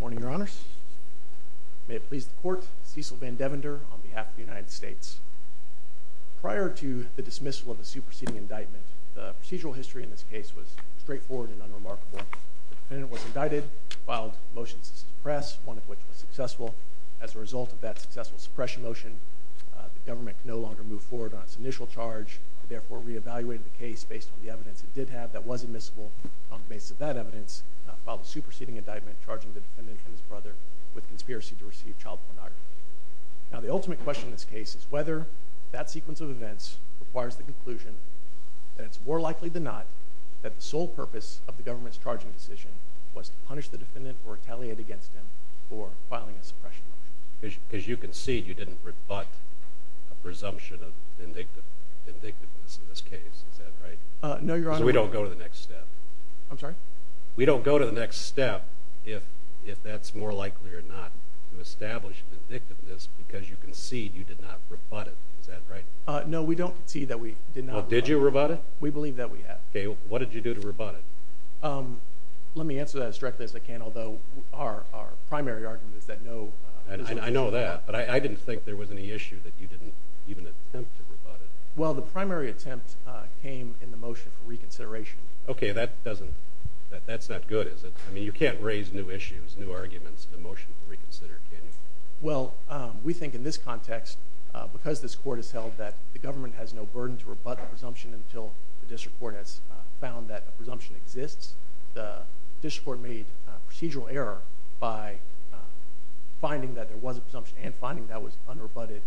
Morning, Your Honors. May it please the Court, Cecil Van Devander on behalf of the United States. Prior to the dismissal of the superseding indictment, the procedural history in this unremarkable. The defendant was indicted, filed motions to suppress, one of which was successful. As a result of that successful suppression motion, the government could no longer move forward on its initial charge. It therefore re-evaluated the case based on the evidence it did have that was admissible. On the basis of that evidence, it filed a superseding indictment charging the defendant and his brother with conspiracy to receive child pornography. Now, the ultimate question in this case is whether that sequence of events requires the conclusion that it's more likely than not that the sole purpose of the government's charging decision was to punish the defendant or retaliate against him for filing a suppression motion. Because you concede you didn't rebut a presumption of indictiveness in this case, is that right? No, Your Honor. So we don't go to the next step. I'm sorry? We don't go to the next step if that's more likely or not to establish an indictiveness because you concede you did not rebut it, is that right? No, we don't see that we did not rebut it. Did you rebut it? We believe that we have. Okay, what did you do to rebut it? Let me answer that as directly as I can, although our primary argument is that no... I know that, but I didn't think there was any issue that you didn't even attempt to rebut it. Well, the primary attempt came in the motion for reconsideration. Okay, that's not good, is it? I mean, you can't raise new issues, new arguments in a motion for reconsider, can you? Well, we think in this context, because this court has held that the government has no burden to rebut the presumption until the district court has found that a presumption exists, the district court made a procedural error by finding that there was a presumption and finding that was unrebutted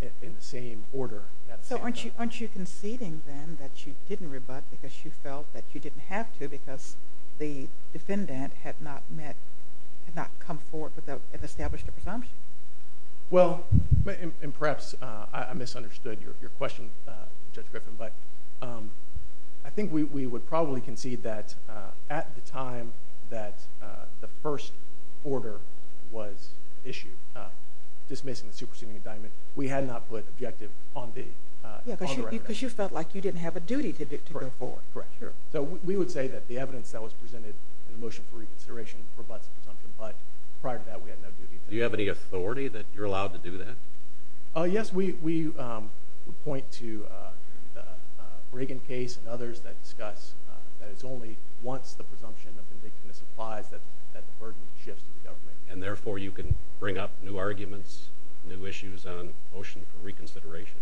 in the same order. So aren't you conceding then that you didn't rebut because you felt that you didn't have to because the defendant had not met, had not come forward and established a presumption? Well, and perhaps I misunderstood your question, Judge Griffin, but I think we would probably concede that at the time that the first order was issued, dismissing the superseding indictment, we had not put objective on the record. Yeah, because you felt like you didn't have a duty to go forward. Correct, correct, sure. So we would say that evidence that was presented in the motion for reconsideration rebuts the presumption, but prior to that, we had no duty. Do you have any authority that you're allowed to do that? Yes, we would point to the Reagan case and others that discuss that it's only once the presumption of indictment applies that the burden shifts to the government. And therefore, you can bring up new arguments, new issues on motion for reconsideration?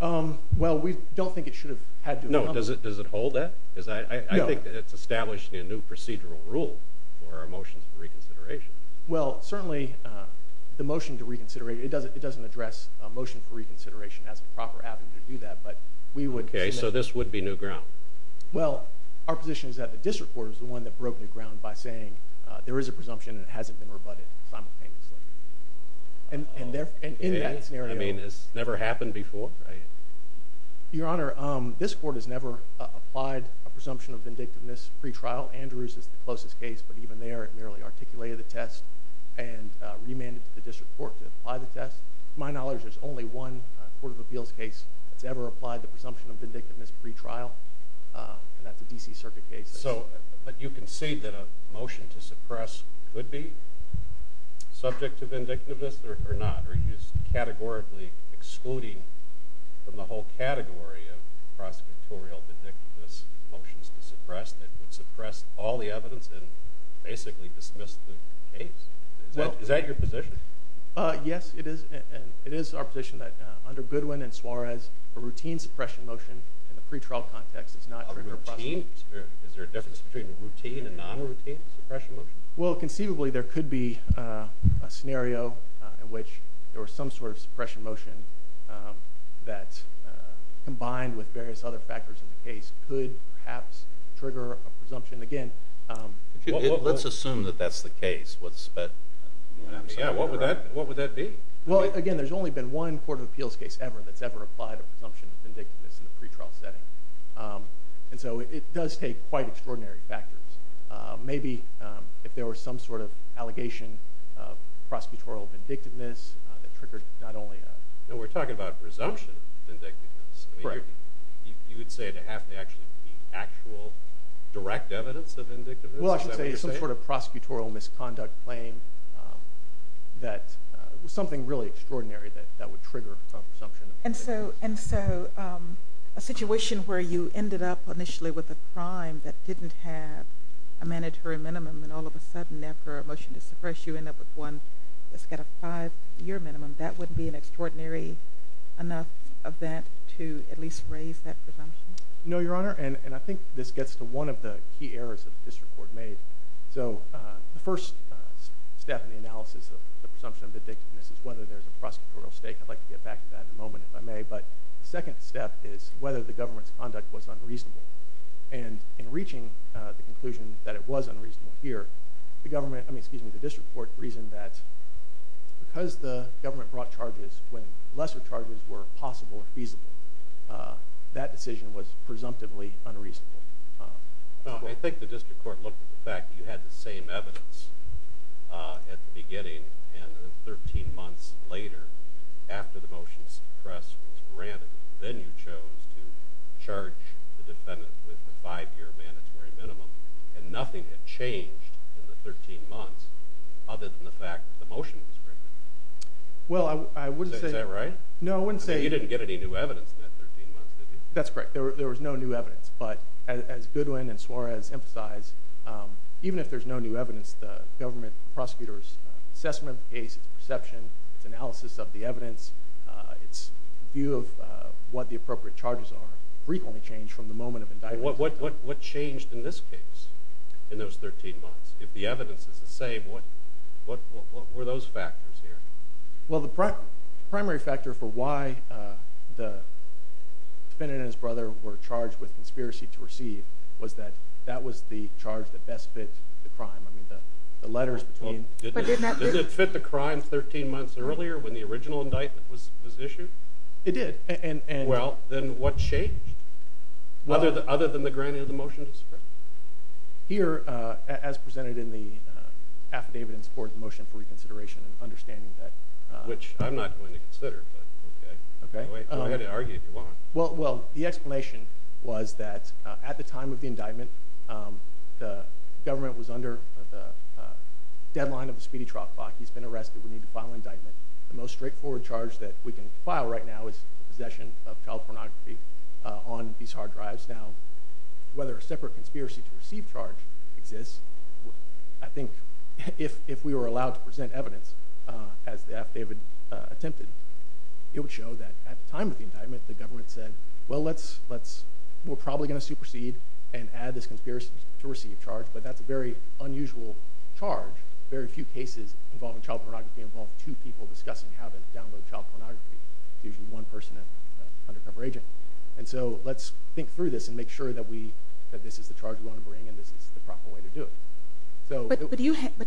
Well, we don't think it should have had to. No, does it hold that? Because I think it's establishing a new procedural rule for our motions for reconsideration. Well, certainly the motion to reconsider, it doesn't address a motion for reconsideration as a proper avenue to do that, but we would. Okay, so this would be new ground? Well, our position is that the district court is the one that broke new ground by saying there is a presumption and it hasn't been rebutted simultaneously. And in that scenario. You mean this never happened before? Right. Your Honor, this court has never applied a presumption of vindictiveness pre-trial. Andrews is the closest case, but even there, it merely articulated the test and remanded to the district court to apply the test. To my knowledge, there's only one Court of Appeals case that's ever applied the presumption of vindictiveness pre-trial, and that's a D.C. Circuit case. So, but you concede that a motion to suppress could be subject to vindictiveness or not, categorically excluding from the whole category of prosecutorial vindictiveness motions to suppress that would suppress all the evidence and basically dismiss the case. Is that your position? Yes, it is. And it is our position that under Goodwin and Suarez, a routine suppression motion in the pre-trial context does not trigger prosecution. A routine? Is there a difference between a routine and non-routine suppression motion? Well, conceivably, there could be a some sort of suppression motion that combined with various other factors in the case could perhaps trigger a presumption. Again, let's assume that that's the case. What would that be? Well, again, there's only been one Court of Appeals case ever that's ever applied a presumption of vindictiveness in the pre-trial setting. And so it does take quite extraordinary factors. Maybe if there were some sort of allegation of prosecutorial vindictiveness that triggered not only a... No, we're talking about presumption of vindictiveness. Correct. You would say it would have to actually be actual direct evidence of vindictiveness? Well, I should say some sort of prosecutorial misconduct claim that was something really extraordinary that would trigger presumption of vindictiveness. And so a situation where you ended up initially with a mandatory minimum and all of a sudden after a motion to suppress you end up with one that's got a five-year minimum, that wouldn't be an extraordinary enough event to at least raise that presumption? No, Your Honor. And I think this gets to one of the key errors that the District Court made. So the first step in the analysis of the presumption of vindictiveness is whether there's a prosecutorial stake. I'd like to get back to that in a moment, if I may. But the second step is whether the government's conduct was unreasonable. And in reaching the conclusion that it was unreasonable here, the District Court reasoned that because the government brought charges when lesser charges were possible or feasible, that decision was presumptively unreasonable. I think the District Court looked at the fact you had the same evidence at the beginning and 13 months later after the motion to suppress was granted, then you chose to charge the defendant with the five-year mandatory minimum, and nothing had changed in the 13 months other than the fact that the motion was written. Well, I wouldn't say... Is that right? No, I wouldn't say... You didn't get any new evidence in that 13 months, did you? That's correct. There was no new evidence. But as Goodwin and Suarez emphasize, even if there's no new evidence, the government prosecutor's assessment of the case, its perception, its analysis of the evidence, its view of what the appropriate charges are, frequently changed from the moment of indictment. What changed in this case in those 13 months? If the evidence is the same, what were those factors here? Well, the primary factor for why the defendant and his brother were charged with conspiracy to receive was that that was the charge that best fit the crime. I mean, the letters between... Did it fit the crime 13 months earlier when the original indictment was issued? It did. Well, then what changed other than the granting of the motion to suppress? Here, as presented in the affidavit in support of the motion for Well, the explanation was that at the time of the indictment, the government was under the deadline of the speedy truck block. He's been arrested. We need to file an indictment. The most straightforward charge that we can file right now is possession of child pornography on these hard drives. Now, whether a separate conspiracy to receive charge exists, I think if we were allowed to present evidence, as the affidavit attempted, it would show that at the time of the indictment, the government said, well, we're probably going to supersede and add this conspiracy to receive charge, but that's a very unusual charge. Very few cases involving child pornography involve two people discussing how to download child pornography. It's usually one person and an undercover agent. And so let's think through this and make sure that this is the charge we want to bring and this is the proper way to do it. But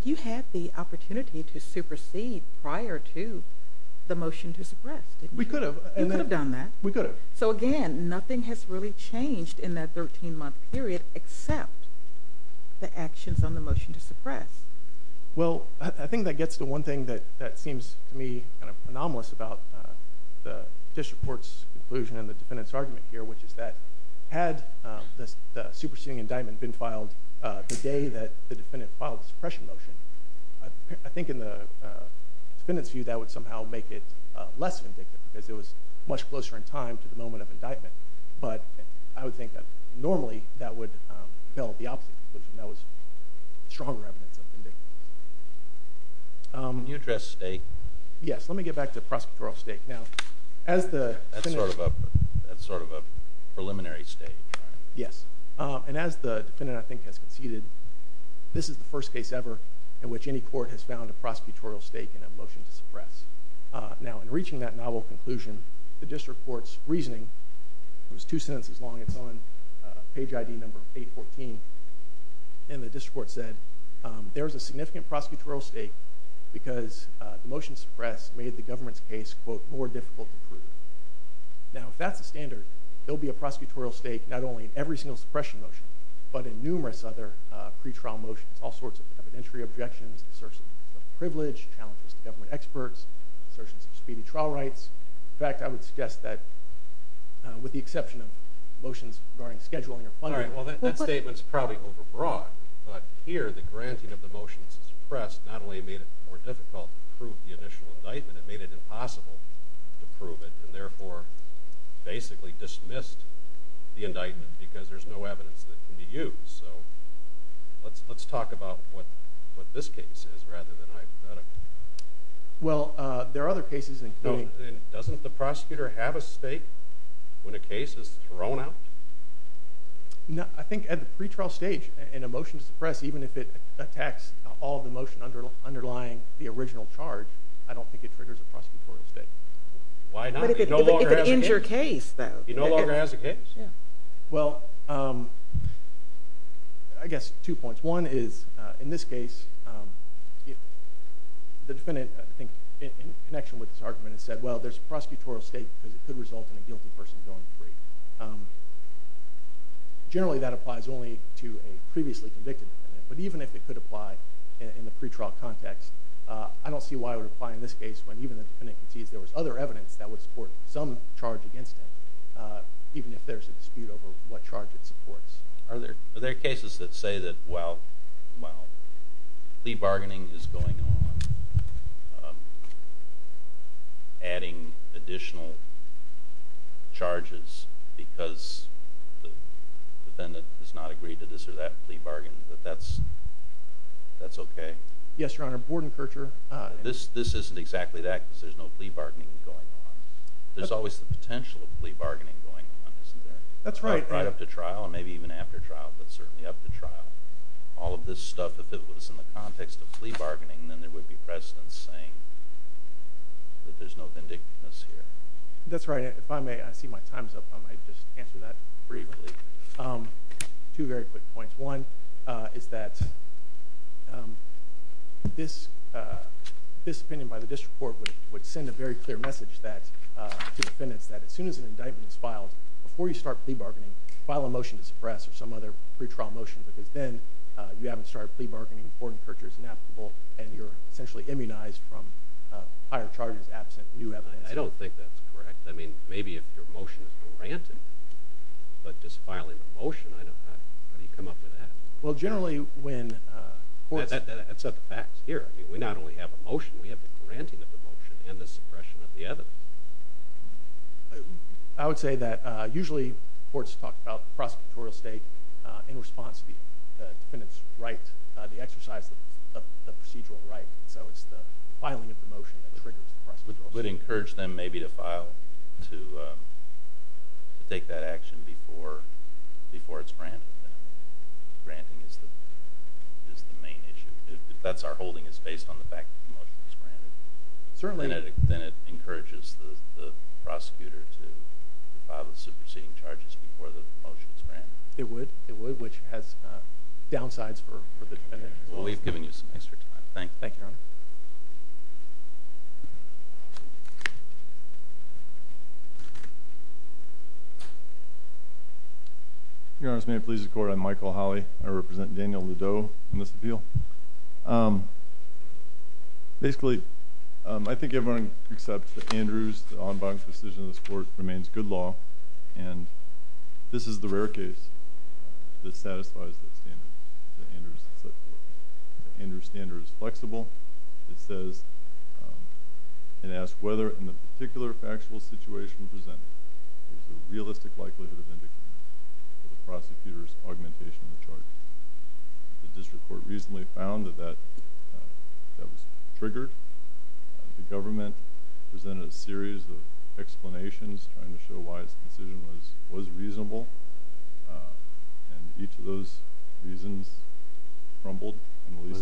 you had the opportunity to supersede prior to the motion to suppress, didn't you? We could have. You could have done that. We could have. So again, nothing has really changed in that 13-month period except the actions on the motion to suppress. Well, I think that gets to one thing that seems to me kind of anomalous about the district court's conclusion and the defendant's argument here, which is that had the superseding indictment been filed the day that the defendant filed the suppression motion, I think in the defendant's view, that would somehow make it less vindictive because it was much closer in time to the moment of indictment. But I would think that normally that would build the opposite conclusion. That was stronger evidence of vindictiveness. Can you address stake? Yes. Let me get back to prosecutorial stake. Now, as the... That's sort of a preliminary stage, right? Yes. And as the defendant, I think, has conceded, this is the first case ever in which any court has found a prosecutorial stake in a motion to suppress. Now, in reaching that novel conclusion, the district court's reasoning, it was two sentences long, it's on page ID number 814, and the district court said there's a significant prosecutorial stake because the motion to suppress made the government's case, quote, more difficult to prove. Now, if that's the standard, there'll be a prosecutorial stake not only in every single suppression motion, but in numerous other pre-trial motions, all sorts of evidentiary objections, assertions of privilege, challenges to government experts, assertions of speedy trial rights. In fact, I would suggest that with the exception of motions regarding scheduling or funding... All right. Well, that statement's probably overbroad, but here the granting of the motions to suppress not only made it more difficult to prove the initial indictment, it made it impossible to prove it, and therefore basically dismissed the indictment because there's no evidence that can be used. So let's talk about what this case is rather than hypothetical. Well, there are other cases including... Doesn't the prosecutor have a stake when a case is thrown out? No, I think at the pre-trial stage in a motion to suppress, even if it attacks all the motion underlying the original charge, I don't think it triggers a prosecutorial stake. Why not? But if it ends your case, though? It no longer has a case. Well, I guess two points. One is, in this case, the defendant, I think in connection with this argument, has said, well, there's a prosecutorial stake because it could result in a guilty person going free. Generally, that applies only to a previously convicted defendant, but even if it could apply in the pre-trial context, I don't see why it would apply in this case when even the defendant concedes there was other evidence that would support some charge against him, even if there's a dispute over what charge it supports. Are there cases that say that while plea bargaining is going on, adding additional charges because the defendant has not agreed to this or that plea bargain, that that's OK? Yes, Your Honor. Bordenkercher. This isn't exactly that because there's no plea bargaining going on. There's always the potential of plea bargaining going on, isn't there? That's right. Right up to trial, and maybe even after trial, but certainly up to trial. All of this stuff, if it was in the context of plea bargaining, then there would be precedents saying that there's no vindictiveness here. That's right. If I may, I see my time's up. I might just answer that briefly. Two very quick points. One is that this opinion by the district court would send a very clear message to defendants that as soon as an indictment is filed, before you start plea bargaining, file a motion to suppress or some other pre-trial motion because then you haven't started plea bargaining, Bordenkercher is inapplicable, and you're essentially immunized from higher charges absent new evidence. I don't think that's correct. Maybe if your motion is granted, but just filing a motion, how do you come up with that? That's not the facts here. We not only have a motion, we have the granting of the motion and the suppression of the evidence. I would say that usually courts talk about prosecutorial state in response to the defendant's right, the exercise of the procedural right, so it's the filing of the motion that triggers the prosecutorial state. It would encourage them maybe to file, to take that action before it's granted. Granting is the main issue. If that's our holding, it's based on the fact that the motion is granted, then it encourages the prosecutor to file the superseding charges before the motion is granted. It would, it would, which has downsides for the defendant. We've given you some extra time. Thank you, Your Honor. Your Honor, if this may please the Court, I'm Michael Holley. I represent Daniel Ladeau in this appeal. Basically, I think everyone accepts that Andrews, the on-bounds decision of this Court, remains good law, and this is the rare case that satisfies the standards that the Andrews standard is flexible. It says, it asks whether in the particular factual situation presented, there's a realistic likelihood of indication of the prosecutor's augmentation of the charge. The District Court recently found that that was triggered. The government presented a series of explanations trying to show why its decision was reasonable, and each of those reasons crumbled.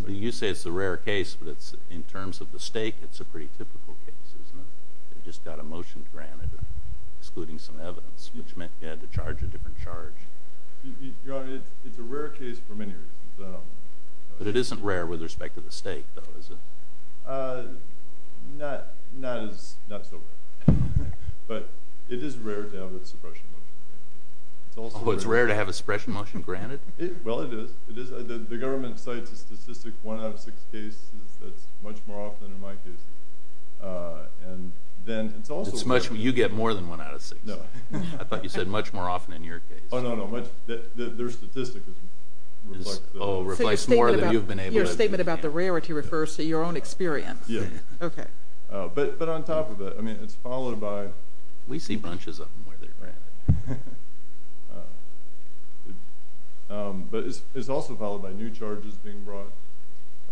You say it's a rare case, but in terms of the stake, it's a pretty typical case, isn't it? It just got a motion granted, excluding some evidence, which meant you had to charge a different charge. Your Honor, it's a rare case for many reasons. But it isn't rare with respect to the stake, though, is it? Uh, not so rare. But it is rare to have a suppression motion granted. Oh, it's rare to have a suppression motion granted? Well, it is. The government cites a statistic, one out of six cases, that's much more often in my case. And then, it's also— It's much—you get more than one out of six. No. I thought you said much more often in your case. Oh, no, no. Their statistic is— Oh, reflects more than you've been able to— Okay. But on top of that, I mean, it's followed by— We see bunches of them where they're granted. But it's also followed by new charges being brought,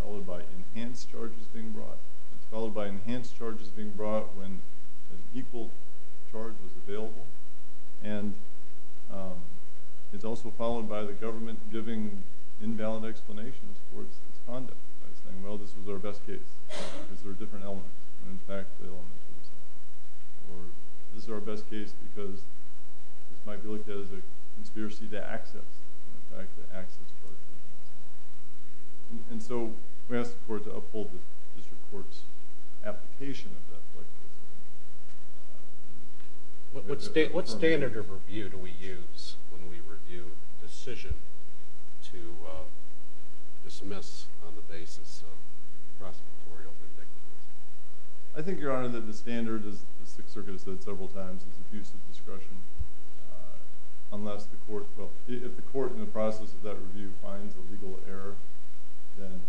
followed by enhanced charges being brought. It's followed by enhanced charges being brought when an equal charge was available. And it's also followed by the government giving invalid explanations for its conduct by saying, well, this was our best case because there were different elements. And, in fact, the elements were the same. Or, this is our best case because this might be looked at as a conspiracy to access. And, in fact, the access part is the same. And so, we ask the court to uphold the district court's application of that. What standard of review do we use when we review a decision to dismiss on the basis of prosecutorial vindictiveness? I think, Your Honor, that the standard, as the Sixth Circuit has said several times, is abusive discretion unless the court—well, if the court, in the process of that review, finds a legal error, then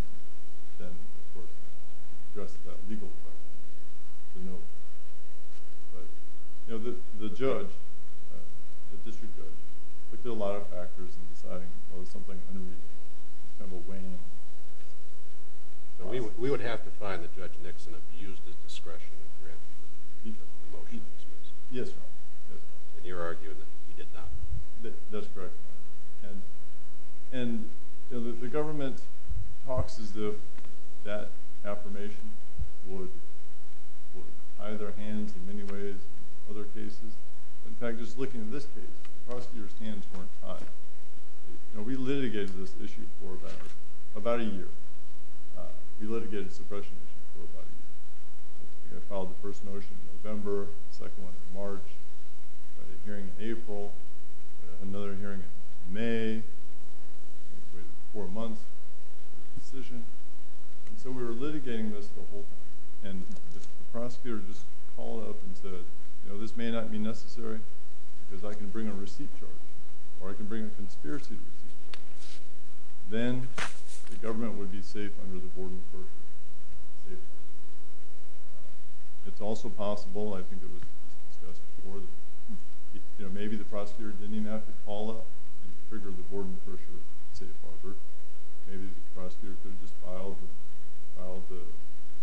the court addresses that legal part. But, you know, the judge, the district judge, looked at a lot of factors in deciding, well, is something unreasonable? It's kind of a wham. But we would have to find that Judge Nixon abused his discretion in granting the motion. Yes, Your Honor. And you're arguing that he did not. That's correct. And, you know, the government talks as if that affirmation would tie their hands in many ways in other cases. In fact, just looking at this case, the prosecutor's time—you know, we litigated this issue for about a year. We litigated a suppression issue for about a year. We filed the first motion in November, the second one in March, we had a hearing in April, another hearing in May, waited four months for a decision. And so we were litigating this the whole time. And the prosecutor just called up and said, you know, this may not be necessary, because I can bring a receipt charge, or I can bring a conspiracy receipt charge. Then the government would be safe under the Boardman-Kershaw safe harbor. It's also possible—I think it was discussed before—that, you know, maybe the prosecutor didn't even have to call up and trigger the Boardman-Kershaw safe harbor. Maybe the prosecutor could have just filed the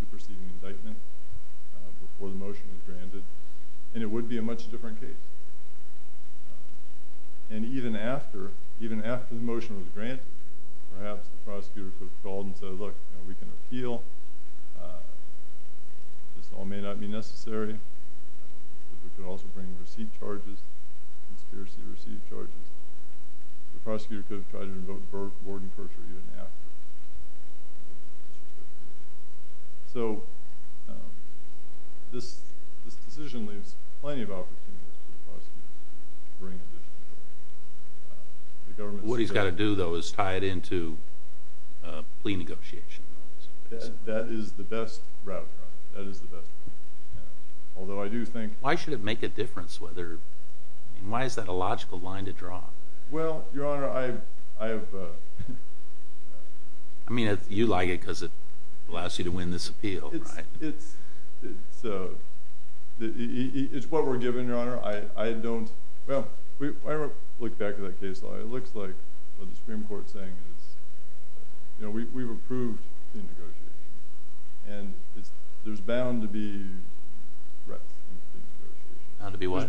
superseding indictment before the motion was granted, and it would be a much different case. And even after the motion was granted, perhaps the prosecutor could have called and said, look, we can appeal. This all may not be necessary. We could also bring receipt charges, conspiracy receipt charges. The prosecutor could have tried to invoke Boardman-Kershaw even after. So this decision leaves plenty of opportunities for the prosecutor to bring additional. What he's got to do, though, is tie it into plea negotiation. That is the best route. That is the best. Although I do think— Why should it make a difference? Why is that a logical line to draw? Well, Your Honor, I have— I mean, you like it because it allows you to win this appeal, right? It's what we're given, Your Honor. I don't—well, when I look back at that case law, it looks like what the Supreme Court is saying is, you know, we've approved plea negotiations, and there's bound to be threats in plea negotiations. Bound to be what?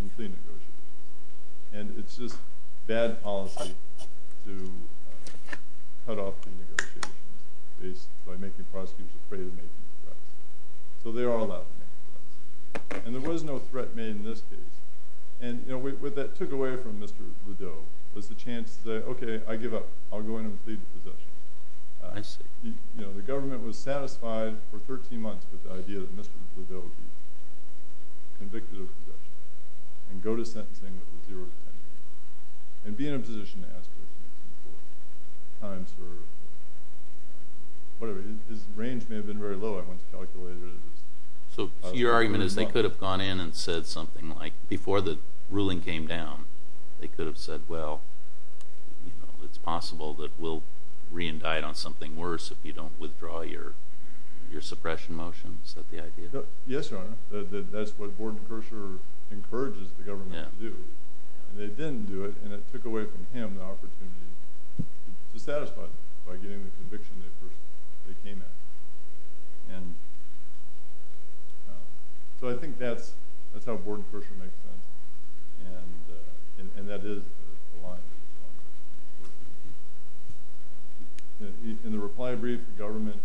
In plea negotiations. And it's just bad policy to cut off the negotiations based—by making prosecutors afraid of making threats. So they are allowed to make threats. And there was no threat made in this case. And, you know, what that took away from Mr. Lideau was the chance to say, okay, I give up. I'll go in and plead the possession. I see. You know, the government was satisfied for 13 months with the idea that Mr. Lideau be and go to sentencing with a zero to 10 year. And be in a position to ask questions before times were—whatever. His range may have been very low. I want to calculate it as— So your argument is they could have gone in and said something like, before the ruling came down, they could have said, well, you know, it's possible that we'll re-indict on something worse if you don't withdraw your suppression motion? Is that the idea? Yes, Your Honor. That's what Bordenkircher encourages the government to do. And they didn't do it. And it took away from him the opportunity to satisfy them by getting the conviction they came at. And so I think that's how Bordenkircher makes sense. And that is the line. In the reply brief, the government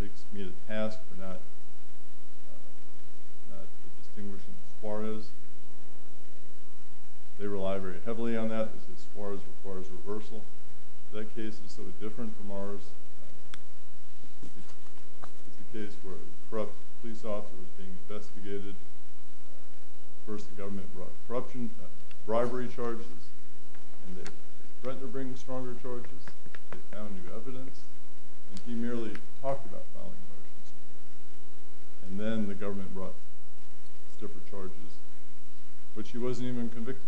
takes me to task for not distinguishing Suarez. They rely very heavily on that. They say Suarez requires reversal. That case is so different from ours. It's a case where a corrupt police officer was being investigated. First, the government brought corruption—bribery charges. And they threatened to bring stronger charges. They found new evidence. And he merely talked about filing motions. And then the government brought stiffer charges, which he wasn't even convicted.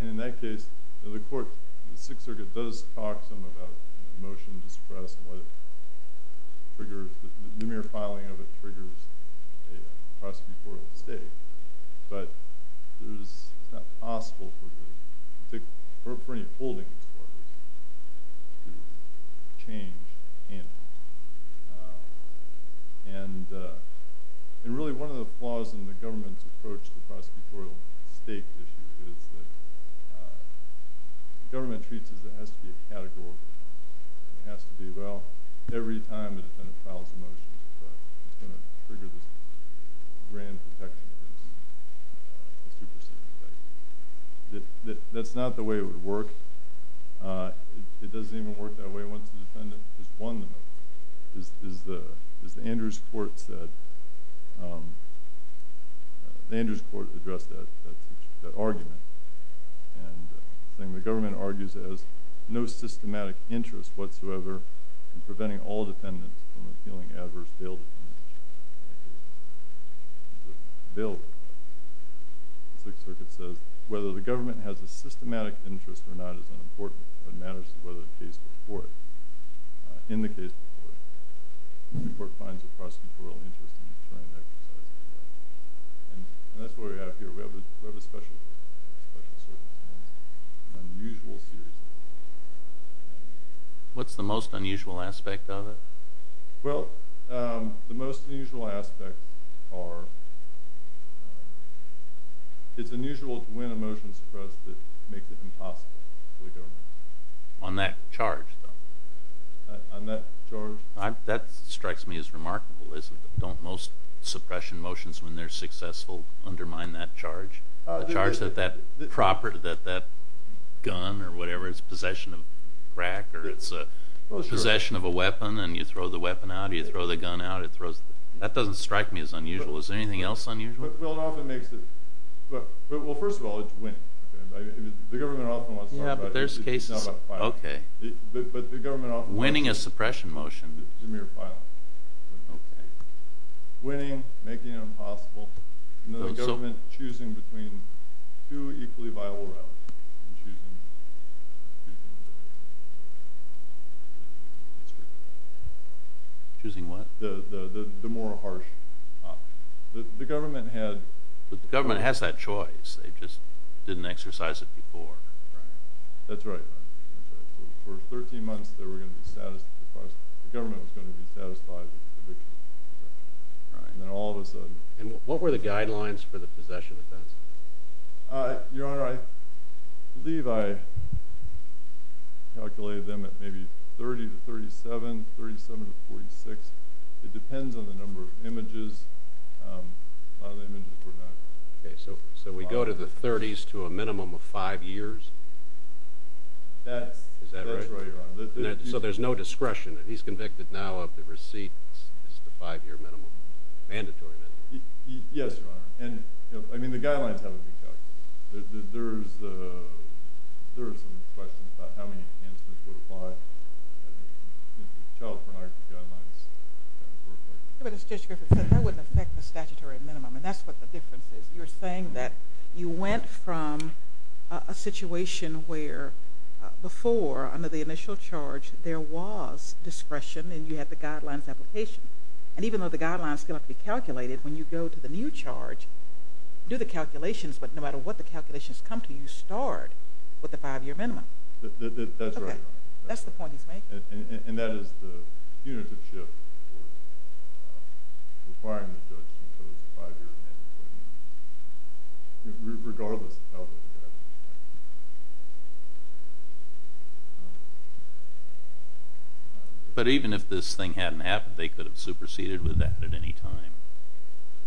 And in that case, the court—the Sixth Circuit does talk some about a motion to suppress and what triggers—the mere filing of it triggers a prosecutorial state. But it's not possible for any holding in Suarez to change. And really, one of the flaws in the government's approach to prosecutorial state issues is that the government treats it as it has to be a category. It has to be, well, every time the defendant files a motion to suppress, it's going to trigger this grand protection against a superseding effect. That's not the way it would work. It doesn't even work that way once the defendant has won the motion. As the Andrews Court said—the Andrews Court addressed that argument, saying the government argues as no systematic interest whatsoever in preventing all defendants from appealing adverse bail defamations. The Sixth Circuit says whether the government has a systematic interest or not is unimportant. What matters is whether the case before it—in the case before it—the court finds a prosecutorial interest in ensuring that exercise of power. And that's what we have here. We have a special circumstance, an unusual series of events. What's the most unusual aspect of it? Well, the most unusual aspects are—it's unusual to win a motion to suppress that makes it impossible for the government to do so. On that charge, though? On that charge? That strikes me as remarkable, isn't it? Don't most suppression motions, when they're successful, undermine that charge? The charge that that gun or whatever—it's possession of a weapon, and you throw the weapon out, you throw the gun out—that doesn't strike me as unusual. Is there anything else unusual? Well, it often makes it—well, first of all, it's winning. The government often wants to— Yeah, but there's cases— It's not about the filing. Okay. But the government often— Winning a suppression motion. It's the mere filing. Okay. Winning, making it impossible. And the government choosing between two equally viable routes, and choosing— Choosing what? The more harsh option. The government had— The government has that choice. They just didn't exercise it before. That's right. For 13 months, they were going to be satisfied—the government was going to be satisfied with the conviction. And then all of a sudden— What were the guidelines for the possession of guns? Your Honor, I believe I calculated them at maybe 30 to 37, 37 to 46. It depends on the number of images. A lot of the images were not— Okay, so we go to the 30s to a minimum of five years? That's— Is that right? That's right, Your Honor. So there's no discretion. He's convicted now of the receipt—it's the five-year minimum. Mandatory minimum. Yes, Your Honor. And, I mean, the guidelines haven't been calculated. There are some questions about how many enhancements would apply. Child pornography guidelines— But it's just—that wouldn't affect the statutory minimum, and that's what the difference is. You're saying that you went from a situation where before, under the initial charge, there was discretion, and you had the guidelines application. And even though the guidelines cannot be calculated, when you go to the new charge, do the calculations, but no matter what the calculations come to, you start with the five-year minimum. That's right, Your Honor. That's the point he's making. And that is the punitive shift for requiring the judge to impose a five-year minimum, regardless of how long it's been in place. But even if this thing hadn't happened, they could have superseded with that at any time?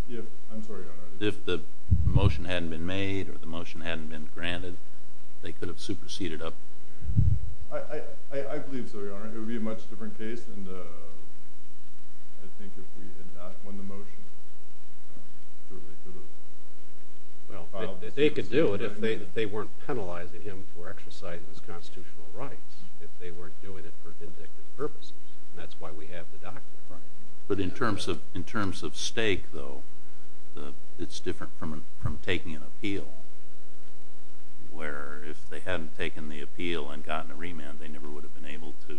Yes, I'm sorry, Your Honor. If the motion hadn't been made or the motion hadn't been granted, they could have superseded up? I believe so, Your Honor. It would be a much different case, and I think if we had not won the motion, they could have filed the supersedition. Well, they could do it if they weren't passed. But in terms of stake, though, it's different from taking an appeal, where if they hadn't taken the appeal and gotten a remand, they never would have been able to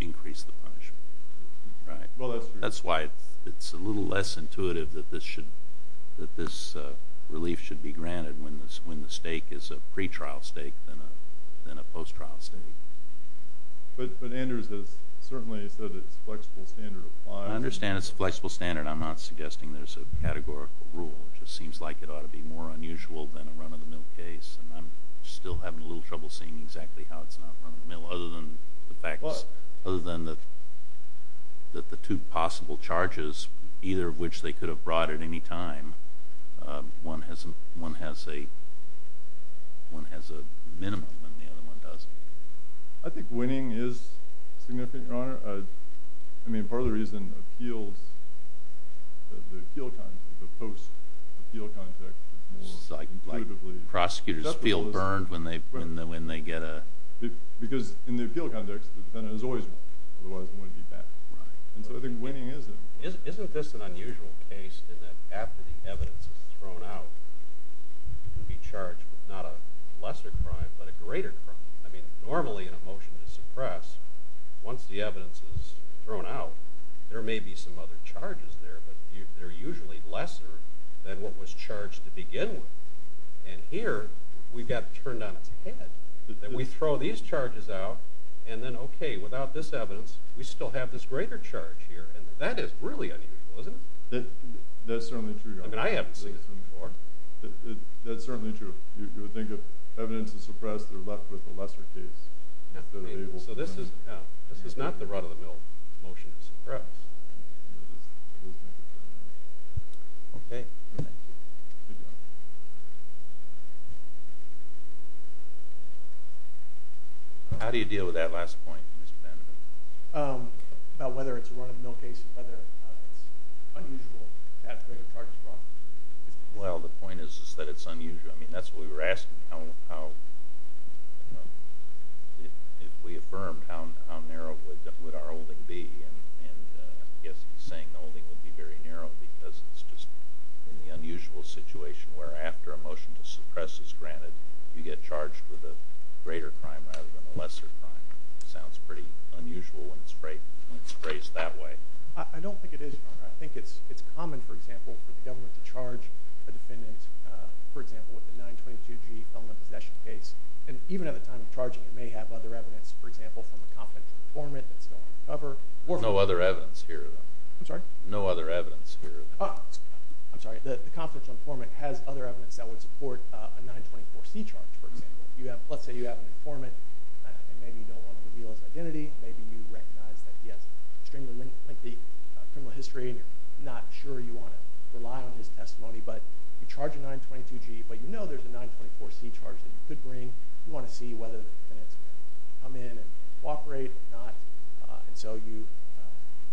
increase the punishment. That's why it's a little less intuitive that this relief should be granted when the stake is a pretrial stake than a post-trial stake. But Anders has certainly said it's a flexible standard of filing. I understand it's a flexible standard. I'm not suggesting there's a categorical rule. It just seems like it ought to be more unusual than a run-of-the-mill case, and I'm still having a little trouble seeing exactly how it's not run-of-the-mill, other than the two possible charges, either of which they could have brought at any time. One has a minimum, and the other one doesn't. I think winning is significant, Your Honor. I mean, part of the reason appeals, the post-appeal context is more intuitively... Prosecutors feel burned when they get a... Because in the appeal context, the defendant is always wrong. Otherwise, it wouldn't be bad. And so I think winning is... Isn't this an unusual case in that after the evidence is thrown out, you'd be charged with not a lesser crime, but a greater crime? I mean, normally in a motion to suppress, once the evidence is thrown out, there may be some other charges there, but they're usually lesser than what was charged to begin with. And here, we've got it turned on its head that we throw these charges out, and then, okay, without this evidence, we still have this greater charge here. And that is really unusual, isn't it? That's certainly true, Your Honor. I mean, I haven't seen this one before. That's certainly true. You would think if evidence is suppressed, they're left with a lesser case. So this is not the run-of-the-mill motion to suppress. Okay. How do you deal with that last point, Mr. Vandiver? About whether it's a run-of-the-mill case and whether it's unusual to have greater charges brought? Well, the point is that it's unusual. I mean, that's what we were asking. If we affirmed, how narrow would our holding be? And I guess he's saying the holding would be very narrow because it's just in the unusual situation where after a motion to suppress is granted, you get charged with a greater crime rather than a lesser crime. Sounds pretty unusual when it's phrased that way. I don't think it is, Your Honor. I think it's common, for example, for the government to charge a defendant, for example, with a 922G felony possession case. And even at the time of charging, it may have other evidence, for example, from a confidential informant that's still on the cover. No other evidence here, though. I'm sorry? No other evidence here. I'm sorry. The confidential informant has other evidence that would support a 924C charge, for example. Let's say you have an informant, and maybe you don't want to reveal his identity. Maybe you recognize that he has extremely lengthy criminal history, and you're not sure you want to rely on his testimony. But you charge a 922G, but you know there's a 924C charge that you could bring. You want to see whether the defendant's going to come in and cooperate or not. And so you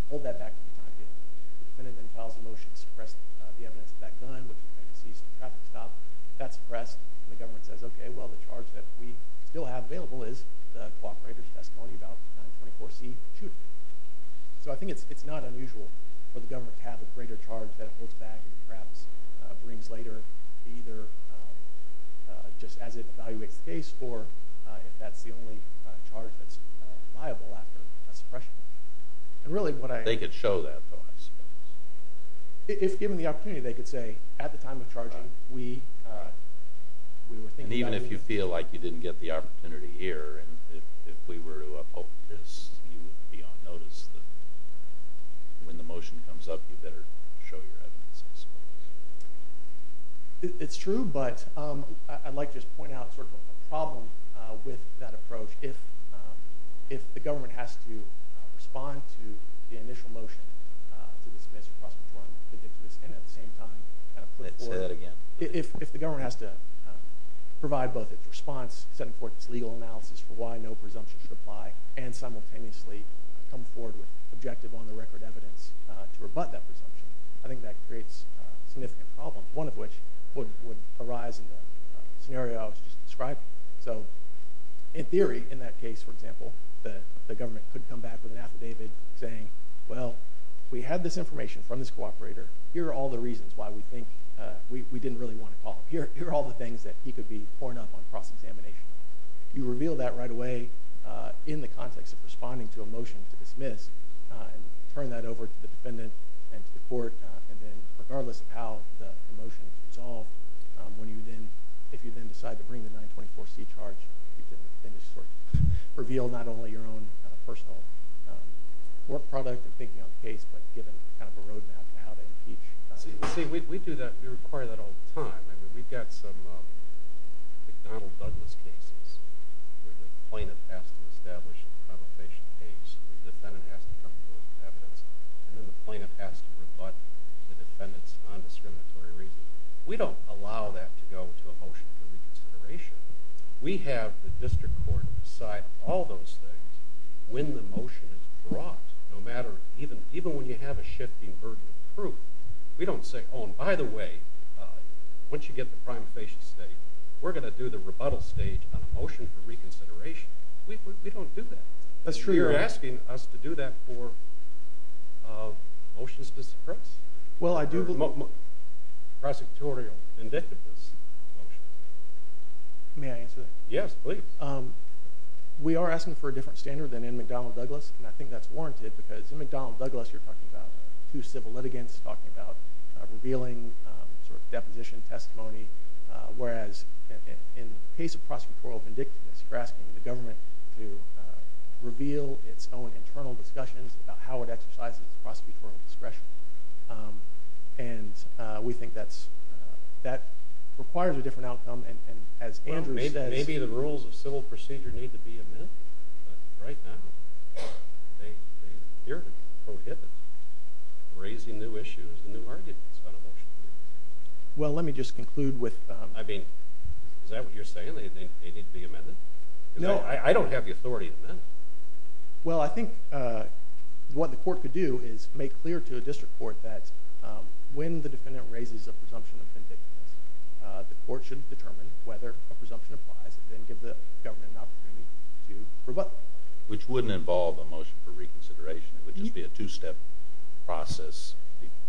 hold that back for the time being. The defendant then files a motion to suppress the evidence of that gun, which may be seized for traffic stop. If that's suppressed, the government says, OK, well, the charge that we still have available is the cooperator's testimony about the 924C shooting. So I think it's not unusual for the government to have a greater charge that it holds back and perhaps brings later, either just as it evaluates the case, or if that's the only charge that's liable after a suppression. And really, what I— I don't know that, though, I suppose. If given the opportunity, they could say, at the time of charging, we were thinking— And even if you feel like you didn't get the opportunity here, and if we were to uphold this, you would be on notice that when the motion comes up, you better show your evidence, I suppose. It's true, but I'd like to just point out sort of a problem with that approach. If the government has to respond to the initial motion to dismiss or cross-perform the dictum, and at the same time— Say that again. If the government has to provide both its response, setting forth its legal analysis for why no presumption should apply, and simultaneously come forward with objective, on-the-record evidence to rebut that presumption, I think that creates significant problems, one of which would arise in the scenario I was just describing. So, in theory, in that case, for example, the government could come back with an affidavit saying, well, we had this information from this cooperator. Here are all the reasons why we think we didn't really want to call him. Here are all the things that he could be pouring up on cross-examination. You reveal that right away in the context of responding to a motion to dismiss, and turn that over to the defendant and to the court, and then, regardless of how the motion is resolved, when you then—if you then decide to bring the 924C charge, you then just sort of reveal not only your own personal work product and thinking of the case, but giving kind of a roadmap to how to impeach. See, we do that—we require that all the time. I mean, we've got some McDonnell-Douglas cases where the plaintiff has to establish a provocation case, the defendant has to come forward with evidence, and then the plaintiff has to rebut the defendant's nondiscriminatory reason. We don't allow that to go to a motion for reconsideration. We have the district court decide all those things when the motion is brought, no matter—even when you have a shifting burden of proof. We don't say, oh, and by the way, once you get the prima facie state, we're going to do the rebuttal stage on a motion for reconsideration. We don't do that. That's true. You're asking us to do that for motions to suppress? Well, I do— Prosecutorial vindictiveness motion. May I answer that? Yes, please. We are asking for a different standard than in McDonnell-Douglas, and I think that's warranted because in McDonnell-Douglas, you're talking about two civil litigants, talking about revealing sort of deposition testimony, whereas in the case of prosecutorial vindictiveness, you're asking the government to reveal its own internal discussions about how it exercises prosecutorial discretion. And we think that requires a different outcome, and as Andrew said— Maybe the rules of civil procedure need to be amended right now. They appear to prohibit raising new issues and new arguments on a motion. Well, let me just conclude with— I mean, is that what you're saying? They need to be amended? No, I don't have the authority to amend it. Well, I think what the court could do is make clear to a district court that when the defendant raises a presumption of vindictiveness, the court should determine whether a presumption applies and then give the government an opportunity to rebut. Which wouldn't involve a motion for reconsideration. It would just be a two-step process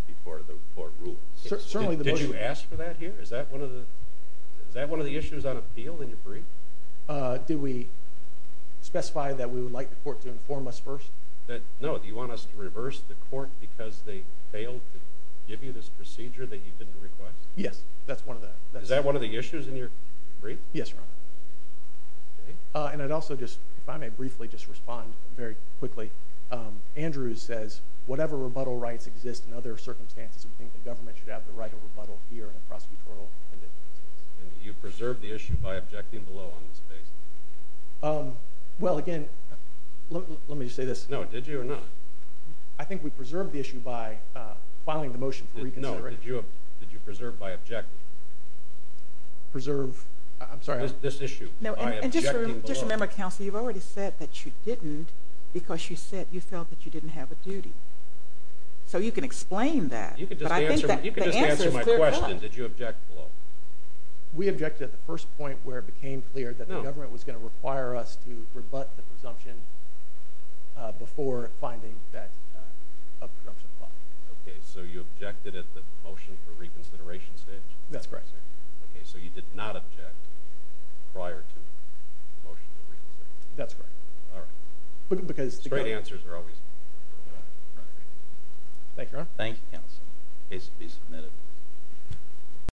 before the court rules. Certainly, the motion— Did you ask for that here? Is that one of the issues on appeal in your brief? Did we specify that we would like the court to inform us first? No, do you want us to reverse the court because they failed to give you this procedure that you didn't request? Yes, that's one of the— Is that one of the issues in your brief? Yes, Your Honor. And I'd also just— If I may briefly just respond very quickly. Andrew says, whatever rebuttal rights exist in other circumstances, we think the government should have the right to rebuttal here in a prosecutorial case. And did you preserve the issue by objecting below on this basis? Well, again, let me just say this. No, did you or not? I think we preserved the issue by filing the motion for reconsideration. No, did you preserve by objecting? Preserve— I'm sorry, I— This issue by objecting below. And just remember, counsel, you've already said that you didn't because you said you felt that you didn't have a duty. So you can explain that. You can just answer my question. Did you object below? We objected at the first point where it became clear that the government was going to require us to rebut the presumption before finding that a presumption filed. Okay, so you objected at the motion for reconsideration stage? That's correct, sir. Okay, so you did not object prior to the motion for reconsideration? That's correct. All right. But because— Straight answers are always— Thank you, Your Honor. Thank you, counsel. Case to be submitted.